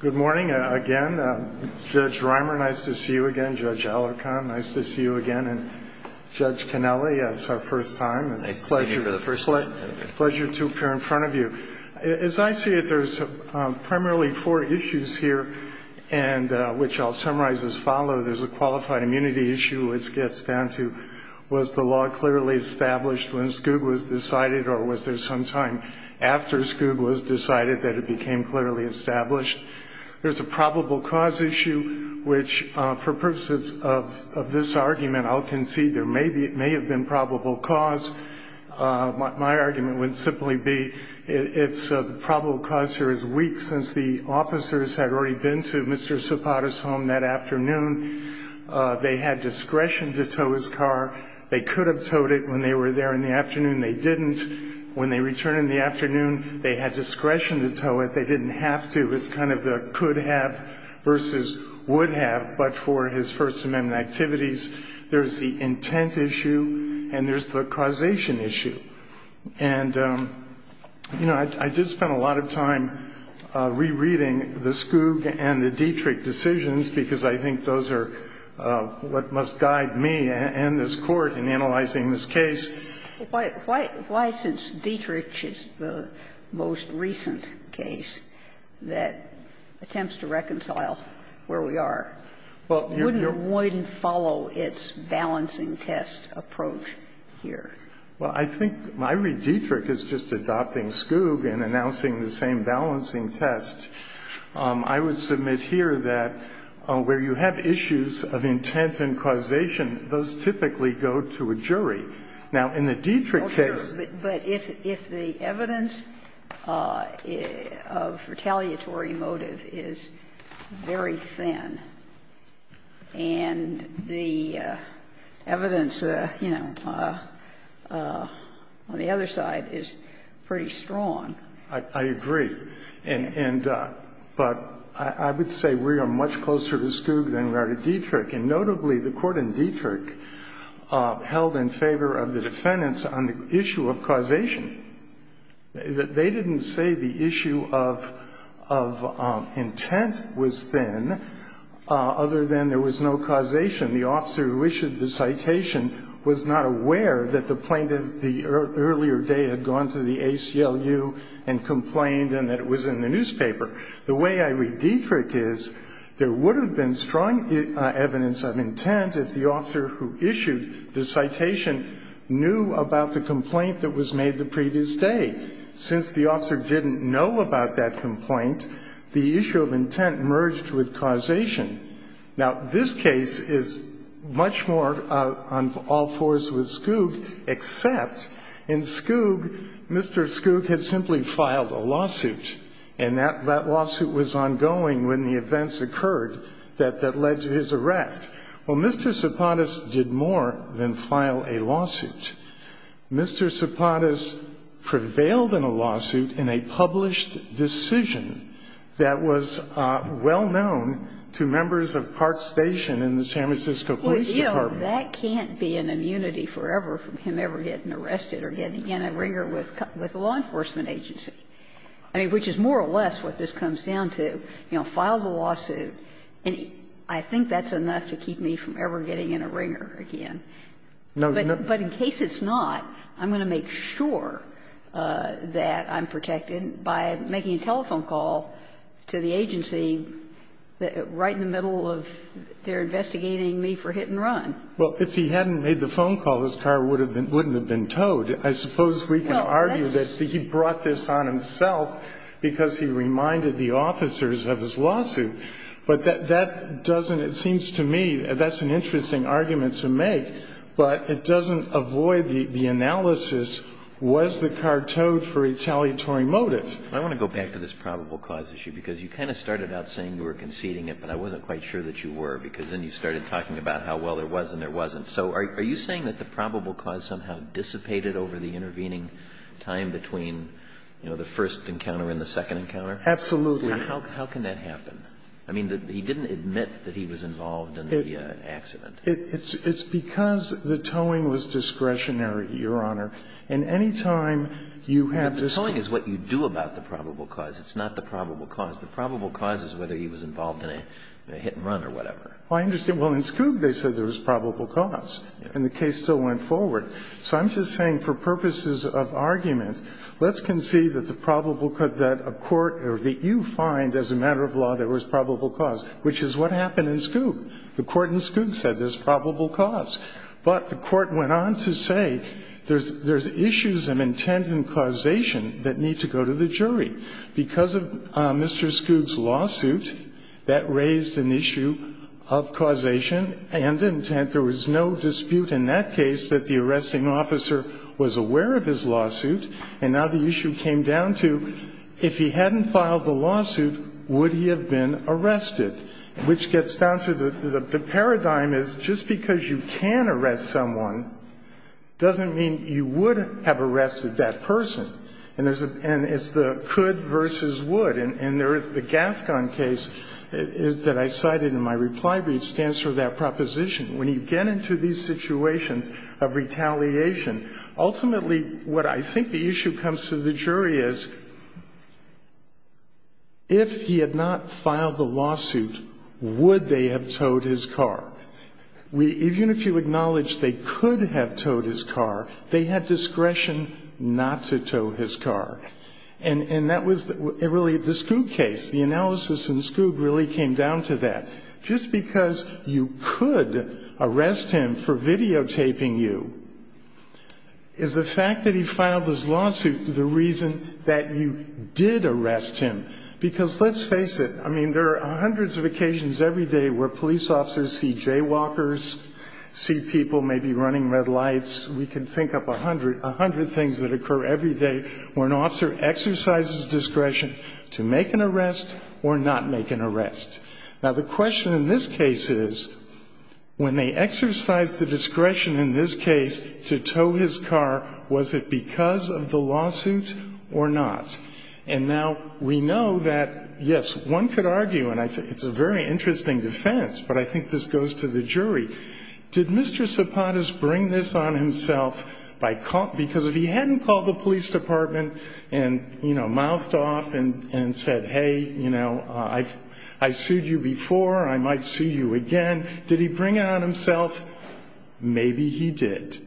Good morning again. Judge Reimer, nice to see you again. Judge Alarcon, nice to see you again. Judge Cannella, yes, it's our first time. It's a pleasure to appear in front of you. As I see it, there's primarily four issues here, which I'll summarize as follows. There's a qualified immunity issue, which gets down to was the law clearly established when SCOOG was decided or was there some time after SCOOG was decided that it became clearly established. There's a probable cause issue, which, for purposes of this argument, I'll concede there may have been probable cause. My argument would simply be it's probable cause here is weak. Since the officers had already been to Mr. Sepatis' home that afternoon, they had discretion to tow his car. They could have towed it when they were there in the afternoon. They didn't. When they returned in the afternoon, they had discretion to tow it. They didn't have to. It's kind of the could have versus would have. But for his First Amendment activities, there's the intent issue and there's the causation issue. And, you know, I did spend a lot of time rereading the SCOOG and the Dietrich decisions, because I think those are what must guide me and this Court in analyzing this case. Why since Dietrich is the most recent case that attempts to reconcile where we are, wouldn't Woyden follow its balancing test approach here? Well, I think I read Dietrich as just adopting SCOOG and announcing the same balancing test. I would submit here that where you have issues of intent and causation, those typically go to a jury. Now, in the Dietrich case the evidence of retaliatory motive is very thin. And the evidence, you know, on the other side is pretty strong. I agree. But I would say we are much closer to SCOOG than we are to Dietrich. And notably, the Court in Dietrich held in favor of the defendants on the issue of causation. They didn't say the issue of intent was thin, other than there was no causation. The officer who issued the citation was not aware that the plaintiff the earlier day had gone to the ACLU and complained and that it was in the newspaper. The way I read Dietrich is there would have been strong evidence of intent if the officer who issued the citation knew about the complaint that was made the previous day. Since the officer didn't know about that complaint, the issue of intent merged with causation. Now, this case is much more on all fours with SCOOG, except in SCOOG, Mr. SCOOG had simply filed a lawsuit. And that lawsuit was ongoing when the events occurred that led to his arrest. Well, Mr. Cepadas did more than file a lawsuit. Mr. Cepadas prevailed in a lawsuit in a published decision that was well known to members of the Justice Department. You know, that can't be an immunity forever from him ever getting arrested or getting in a ringer with a law enforcement agency. I mean, which is more or less what this comes down to. You know, file the lawsuit. And I think that's enough to keep me from ever getting in a ringer again. But in case it's not, I'm going to make sure that I'm protected by making a telephone call to the agency right in the middle of their investigating me for hit and run. Well, if he hadn't made the phone call, this car wouldn't have been towed. I suppose we can argue that he brought this on himself because he reminded the officers of his lawsuit. But that doesn't, it seems to me, that's an interesting argument to make. But it doesn't avoid the analysis, was the car towed for retaliatory motive? I want to go back to this probable cause issue because you kind of started out saying you were conceding it, but I wasn't quite sure that you were because then you started talking about how well there was and there wasn't. So are you saying that the probable cause somehow dissipated over the intervening time between, you know, the first encounter and the second encounter? Absolutely. How can that happen? I mean, he didn't admit that he was involved in the accident. It's because the towing was discretionary, Your Honor. And any time you have this ---- The towing is what you do about the probable cause. It's not the probable cause. The probable cause is whether he was involved in a hit and run or whatever. Well, I understand. Well, in Skoug, they said there was probable cause. And the case still went forward. So I'm just saying for purposes of argument, let's concede that the probable cause that a court or that you find as a matter of law there was probable cause, which is what happened in Skoug. The court in Skoug said there's probable cause. But the court went on to say there's issues of intent and causation that need to go to the jury. Because of Mr. Skoug's lawsuit, that raised an issue of causation and intent. There was no dispute in that case that the arresting officer was aware of his lawsuit. And now the issue came down to if he hadn't filed the lawsuit, would he have been arrested? Which gets down to the paradigm is just because you can arrest someone doesn't mean you would have arrested that person. And it's the could versus would. And there is the Gascon case that I cited in my reply brief stands for that proposition. When you get into these situations of retaliation, ultimately what I think the issue comes to the jury is if he had not filed the lawsuit, would they have towed his car? Even if you acknowledge they could have towed his car, they had discretion not to tow his car. And that was really the Skoug case. The analysis in Skoug really came down to that. Just because you could arrest him for videotaping you is the fact that he filed his lawsuit, the reason that you did arrest him. Because let's face it, I mean, there are hundreds of occasions every day where police officers see jaywalkers, see people maybe running red lights. We can think of a hundred things that occur every day where an officer exercises discretion to make an arrest or not make an arrest. Now, the question in this case is when they exercise the discretion in this case to file the lawsuit or not. And now we know that, yes, one could argue, and it's a very interesting defense, but I think this goes to the jury. Did Mr. Sapatos bring this on himself because if he hadn't called the police department and, you know, mouthed off and said, hey, you know, I sued you before, I might sue you again, did he bring it on himself? Maybe he did.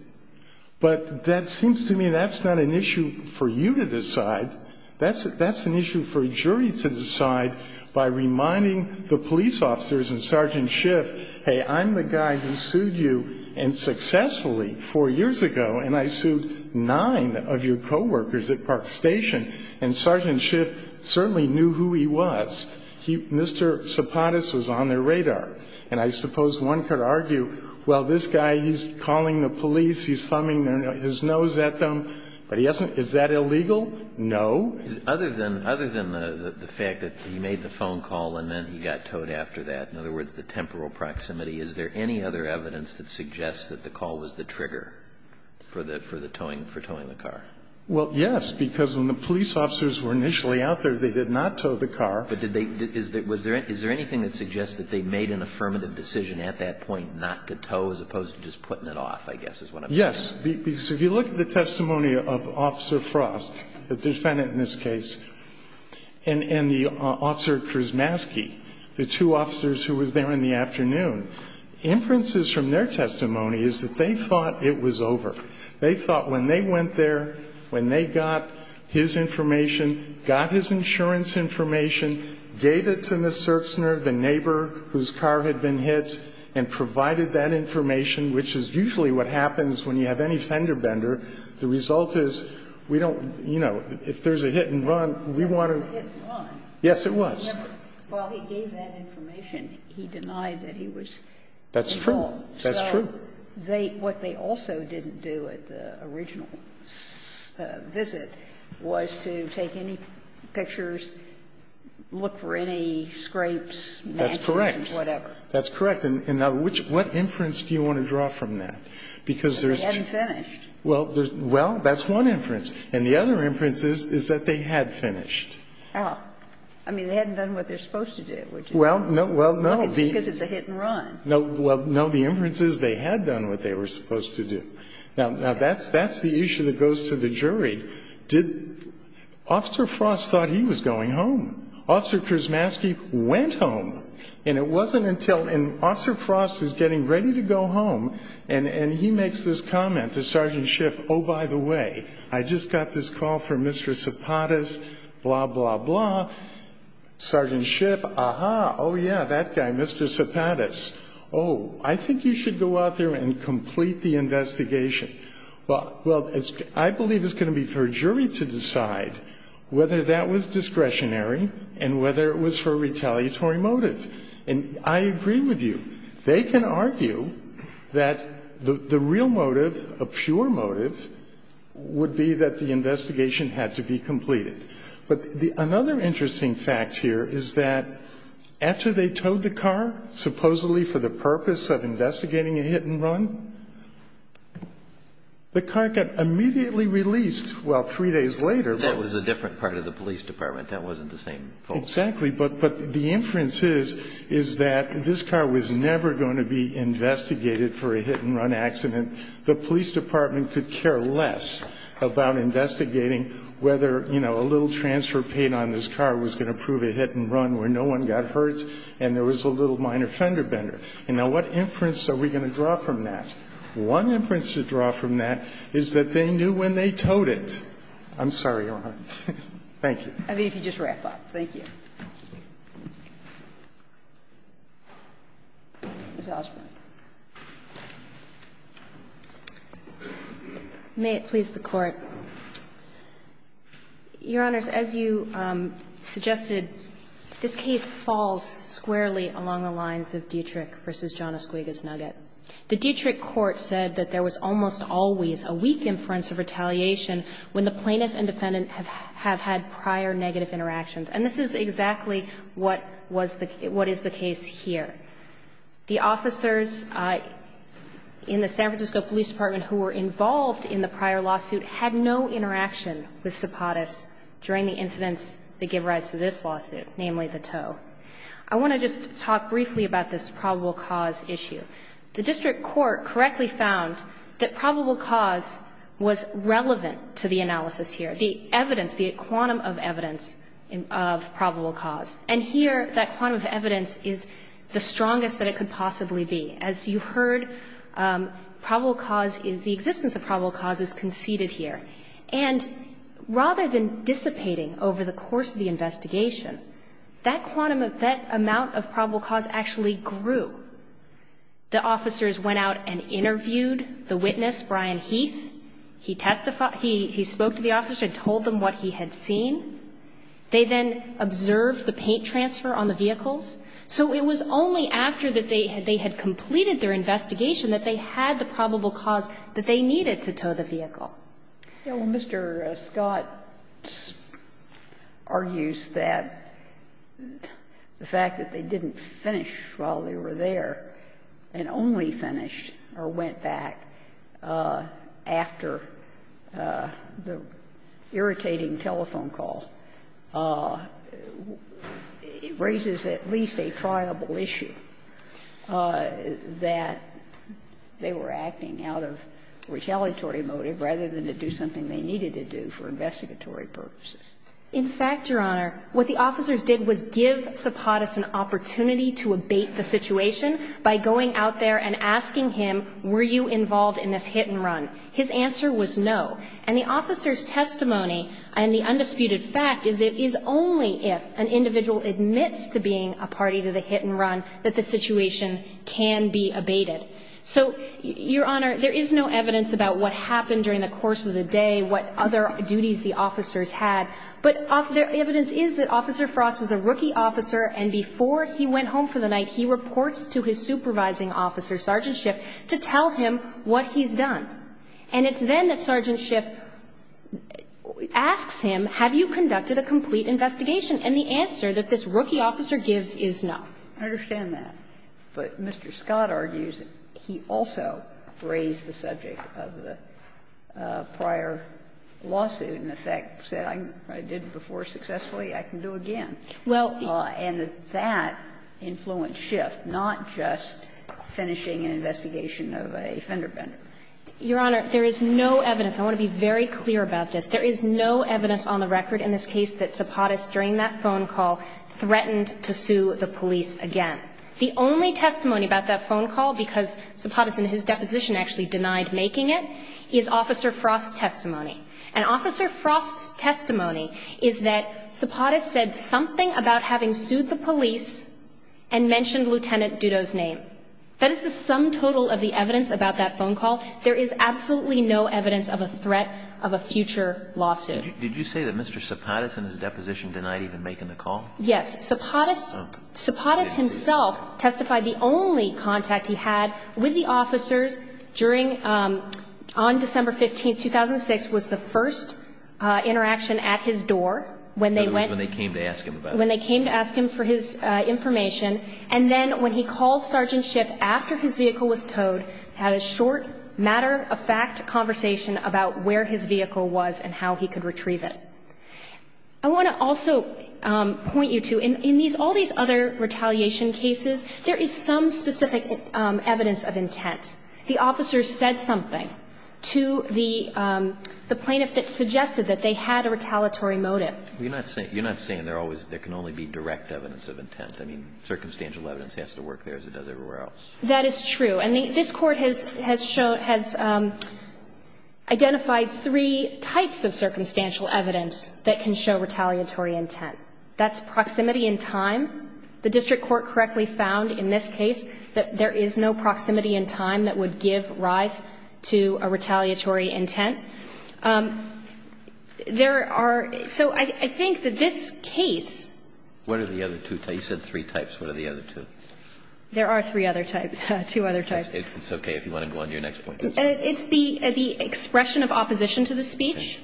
But that seems to me that's not an issue for you to decide. That's an issue for a jury to decide by reminding the police officers and Sergeant Schiff, hey, I'm the guy who sued you and successfully four years ago, and I sued nine of your coworkers at Park Station. And Sergeant Schiff certainly knew who he was. Mr. Sapatos was on their radar. And I suppose one could argue, well, this guy, he's calling the police, he's thumbing his nose at them, but he hasn't. Is that illegal? No. Other than the fact that he made the phone call and then he got towed after that, in other words, the temporal proximity, is there any other evidence that suggests that the call was the trigger for the towing, for towing the car? Well, yes, because when the police officers were initially out there, they did not tow the car. But did they – is there anything that suggests that they made an affirmative decision at that point, not to tow, as opposed to just putting it off, I guess, is what I'm asking. Yes. Because if you look at the testimony of Officer Frost, the defendant in this case, and the Officer Krasmaski, the two officers who was there in the afternoon, inferences from their testimony is that they thought it was over. They thought when they went there, when they got his information, got his insurance information, gave it to Ms. Serksner, the neighbor whose car had been hit, and provided that information, which is usually what happens when you have any fender bender, the result is we don't, you know, if there's a hit and run, we want to – It was a hit and run. Yes, it was. Well, he gave that information. He denied that he was at home. That's true. That's true. So what they also didn't do at the original visit was to take any pictures, look for any scrapes, matches, whatever. That's correct. That's correct. And now, which – what inference do you want to draw from that? Because there's two – They hadn't finished. Well, there's – well, that's one inference. And the other inference is, is that they had finished. How? I mean, they hadn't done what they're supposed to do, which is – Well, no, well, no. Because it's a hit and run. No, well, no. The inference is they had done what they were supposed to do. Now, that's the issue that goes to the jury. Did – Officer Frost thought he was going home. Officer Kurzmaski went home. And it wasn't until – and Officer Frost is getting ready to go home, and he makes this comment to Sergeant Shipp, oh, by the way, I just got this call from Mr. Sepadis, blah, blah, blah. Sergeant Shipp, aha, oh, yeah, that guy, Mr. Sepadis. Oh, I think you should go out there and complete the investigation. Well, I believe it's going to be for a jury to decide whether that was discretionary and whether it was for a retaliatory motive. And I agree with you. They can argue that the real motive, a pure motive, would be that the investigation had to be completed. But another interesting fact here is that after they towed the car, supposedly for the purpose of investigating a hit-and-run, the car got immediately released, well, three days later. That was a different part of the police department. That wasn't the same fault. Exactly. But the inference is, is that this car was never going to be investigated for a hit-and-run accident. The police department could care less about investigating whether, you know, a little transfer paid on this car was going to prove a hit-and-run where no one got hurt and there was a little minor fender-bender. And now what inference are we going to draw from that? One inference to draw from that is that they knew when they towed it. I'm sorry, Your Honor. Thank you. I mean, if you just wrap up. Thank you. Ms. Osborne. May it please the Court. Your Honors, as you suggested, this case falls squarely along the lines of Dietrich v. John Oswego's Nugget. The Dietrich court said that there was almost always a weak inference of retaliation when the plaintiff and defendant have had prior negative interactions. And this is exactly what was the – what is the case here. The officers in the San Francisco Police Department who were involved in the prior lawsuit had no interaction with Sepadis during the incidents that give rise to this lawsuit, namely the tow. I want to just talk briefly about this probable cause issue. The district court correctly found that probable cause was relevant to the analysis here, the evidence, the quantum of evidence of probable cause. And here that quantum of evidence is the strongest that it could possibly be. As you heard, probable cause is the existence of probable causes conceded here. And rather than dissipating over the course of the investigation, that quantum of that amount of probable cause actually grew. The officers went out and interviewed the witness, Brian Heath. He testified – he spoke to the officers and told them what he had seen. They then observed the paint transfer on the vehicles. So it was only after that they had completed their investigation that they had the probable cause that they needed to tow the vehicle. Yeah, well, Mr. Scott argues that the fact that they didn't finish while they were there and only finished or went back after the irritating telephone call raises at least a triable issue, that they were acting out of retaliatory motive rather than to do something they needed to do for investigatory purposes. In fact, Your Honor, what the officers did was give Sepadis an opportunity to abate the situation by going out there and asking him, were you involved in this hit-and-run? His answer was no. And the officer's testimony and the undisputed fact is it is only if an individual admits to being a party to the hit-and-run that the situation can be abated. So, Your Honor, there is no evidence about what happened during the course of the day, what other duties the officers had. But the evidence is that Officer Frost was a rookie officer, and before he went home for the night, he reports to his supervising officer, Sergeant Schiff, to tell him what he's done. And it's then that Sergeant Schiff asks him, have you conducted a complete investigation? And the answer that this rookie officer gives is no. I understand that. But Mr. Scott argues he also raised the subject of the prior lawsuit, and in fact said, I did before successfully, I can do again. And that influenced Schiff, not just finishing an investigation of a fender-bender. Your Honor, there is no evidence. I want to be very clear about this. There is no evidence on the record in this case that Sepadis during that phone call threatened to sue the police again. The only testimony about that phone call, because Sepadis in his deposition actually denied making it, is Officer Frost's testimony. And Officer Frost's testimony is that Sepadis said something about having sued the police and mentioned Lieutenant Dudo's name. That is the sum total of the evidence about that phone call. There is absolutely no evidence of a threat of a future lawsuit. Did you say that Mr. Sepadis in his deposition denied even making the call? Yes. Sepadis himself testified the only contact he had with the officers during – on December 15, 2006, was the first interaction at his door when they went – In other words, when they came to ask him about it. When they came to ask him for his information. And then when he called Sergeant Schiff after his vehicle was towed, had a short matter-of-fact conversation about where his vehicle was and how he could retrieve it. I want to also point you to, in these – all these other retaliation cases, there is some specific evidence of intent. The officers said something to the plaintiff that suggested that they had a retaliatory motive. You're not saying – you're not saying there always – there can only be direct evidence of intent. I mean, circumstantial evidence has to work there as it does everywhere else. That is true. And this Court has shown – has identified three types of circumstantial evidence that can show retaliatory intent. That's proximity in time. The district court correctly found in this case that there is no proximity in time that would give rise to a retaliatory intent. There are – so I think that this case – What are the other two types? You said three types. What are the other two? There are three other types. Two other types. It's okay if you want to go on to your next point. It's the expression of opposition to the speech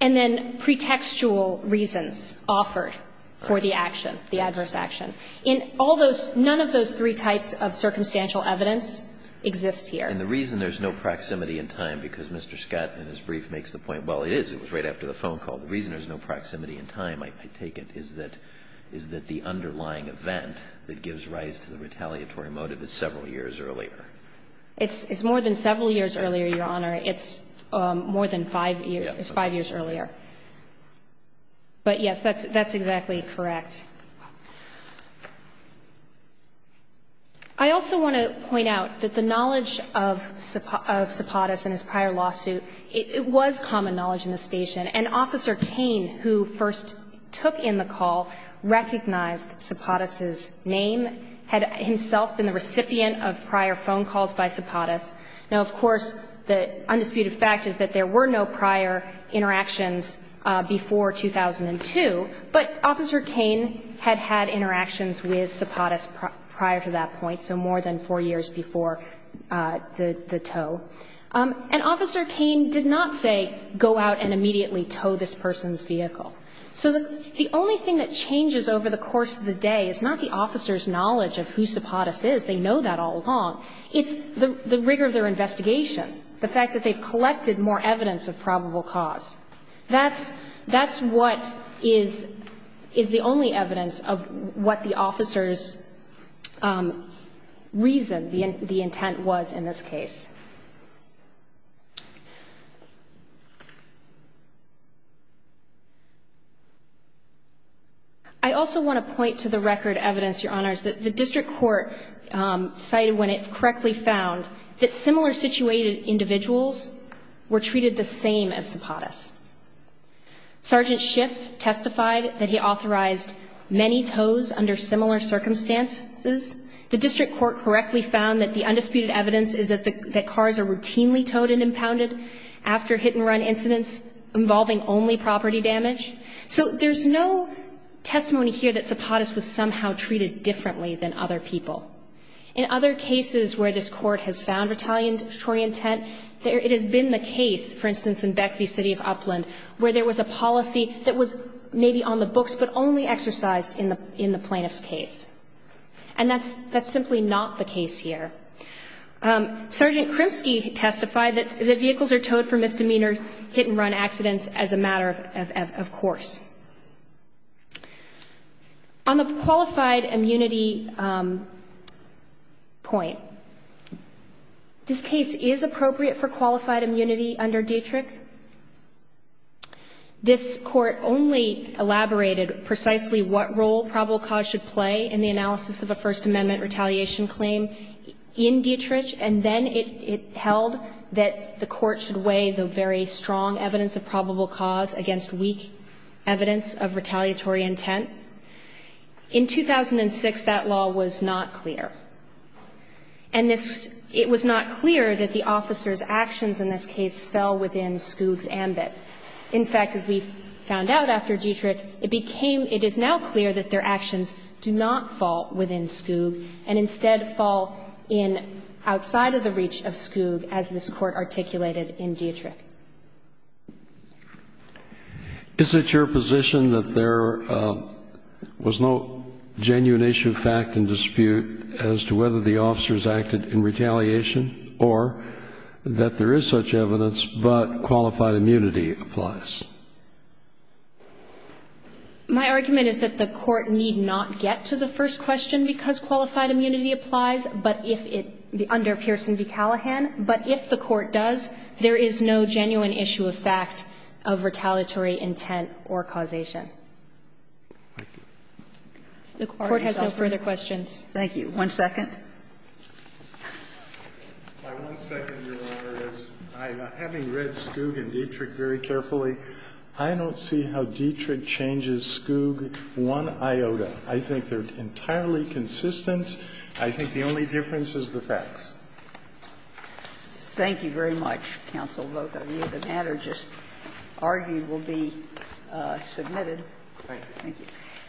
and then pretextual reasons offered for the action, the adverse action. In all those – none of those three types of circumstantial evidence exist here. And the reason there's no proximity in time, because Mr. Scott in his brief makes the point – well, it is. It was right after the phone call. The reason there's no proximity in time, I take it, is that – is that the underlying event that gives rise to the retaliatory motive is several years earlier. It's more than several years earlier, Your Honor. It's more than five years. It's five years earlier. But, yes, that's – that's exactly correct. I also want to point out that the knowledge of Sepadis and his prior lawsuit, it was common knowledge in the station. And Officer Cain, who first took in the call, recognized Sepadis' name, had himself been the recipient of prior phone calls by Sepadis. Now, of course, the undisputed fact is that there were no prior interactions before 2002, but Officer Cain had had interactions with Sepadis prior to that point, so more than four years before the tow. And Officer Cain did not say, go out and immediately tow this person's vehicle. So the only thing that changes over the course of the day is not the officer's knowledge of who Sepadis is. They know that all along. It's the rigor of their investigation, the fact that they've collected more evidence of probable cause. That's – that's what is – is the only evidence of what the officer's reason, the intent was in this case. I also want to point to the record evidence, Your Honors, that the district court cited when it correctly found that similar situated individuals were treated the same as Sepadis. Sergeant Schiff testified that he authorized many tows under similar circumstances. The district court correctly found that the undisputed evidence is that cars are routinely towed and impounded after hit-and-run incidents involving only property damage. So there's no testimony here that Sepadis was somehow treated differently than other people. In other cases where this Court has found retaliatory intent, it has been the case, for instance, in Beck v. City of Upland, where there was a policy that was maybe on the books but only exercised in the – in the plaintiff's case. And that's – that's simply not the case here. Sergeant Krimski testified that the vehicles are towed for misdemeanor hit-and-run accidents as a matter of course. On the qualified immunity point, this case is appropriate for qualified immunity under Dietrich. This Court only elaborated precisely what role probable cause should play in the analysis of a First Amendment retaliation claim in Dietrich, and then it held that the Court should weigh the very strong evidence of probable cause against weak evidence of retaliatory intent. In 2006, that law was not clear. And this – it was not clear that the officer's actions in this case fell within Skoug's ambit. In fact, as we found out after Dietrich, it became – it is now clear that their actions do not fall within Skoug and instead fall in – outside of the reach of Skoug as this Court articulated in Dietrich. Is it your position that there was no genuine issue, fact, and dispute as to whether the officers acted in retaliation or that there is such evidence but qualified immunity applies? My argument is that the Court need not get to the first question because qualified But if the Court does, there is no genuine issue of fact of retaliatory intent or causation. The Court has no further questions. Thank you. One second. My one second, Your Honor, is having read Skoug and Dietrich very carefully, I don't see how Dietrich changes Skoug one iota. I think they're entirely consistent. I think the only difference is the facts. Thank you very much, Counsel. Both of you. The matter just argued will be submitted. Thank you.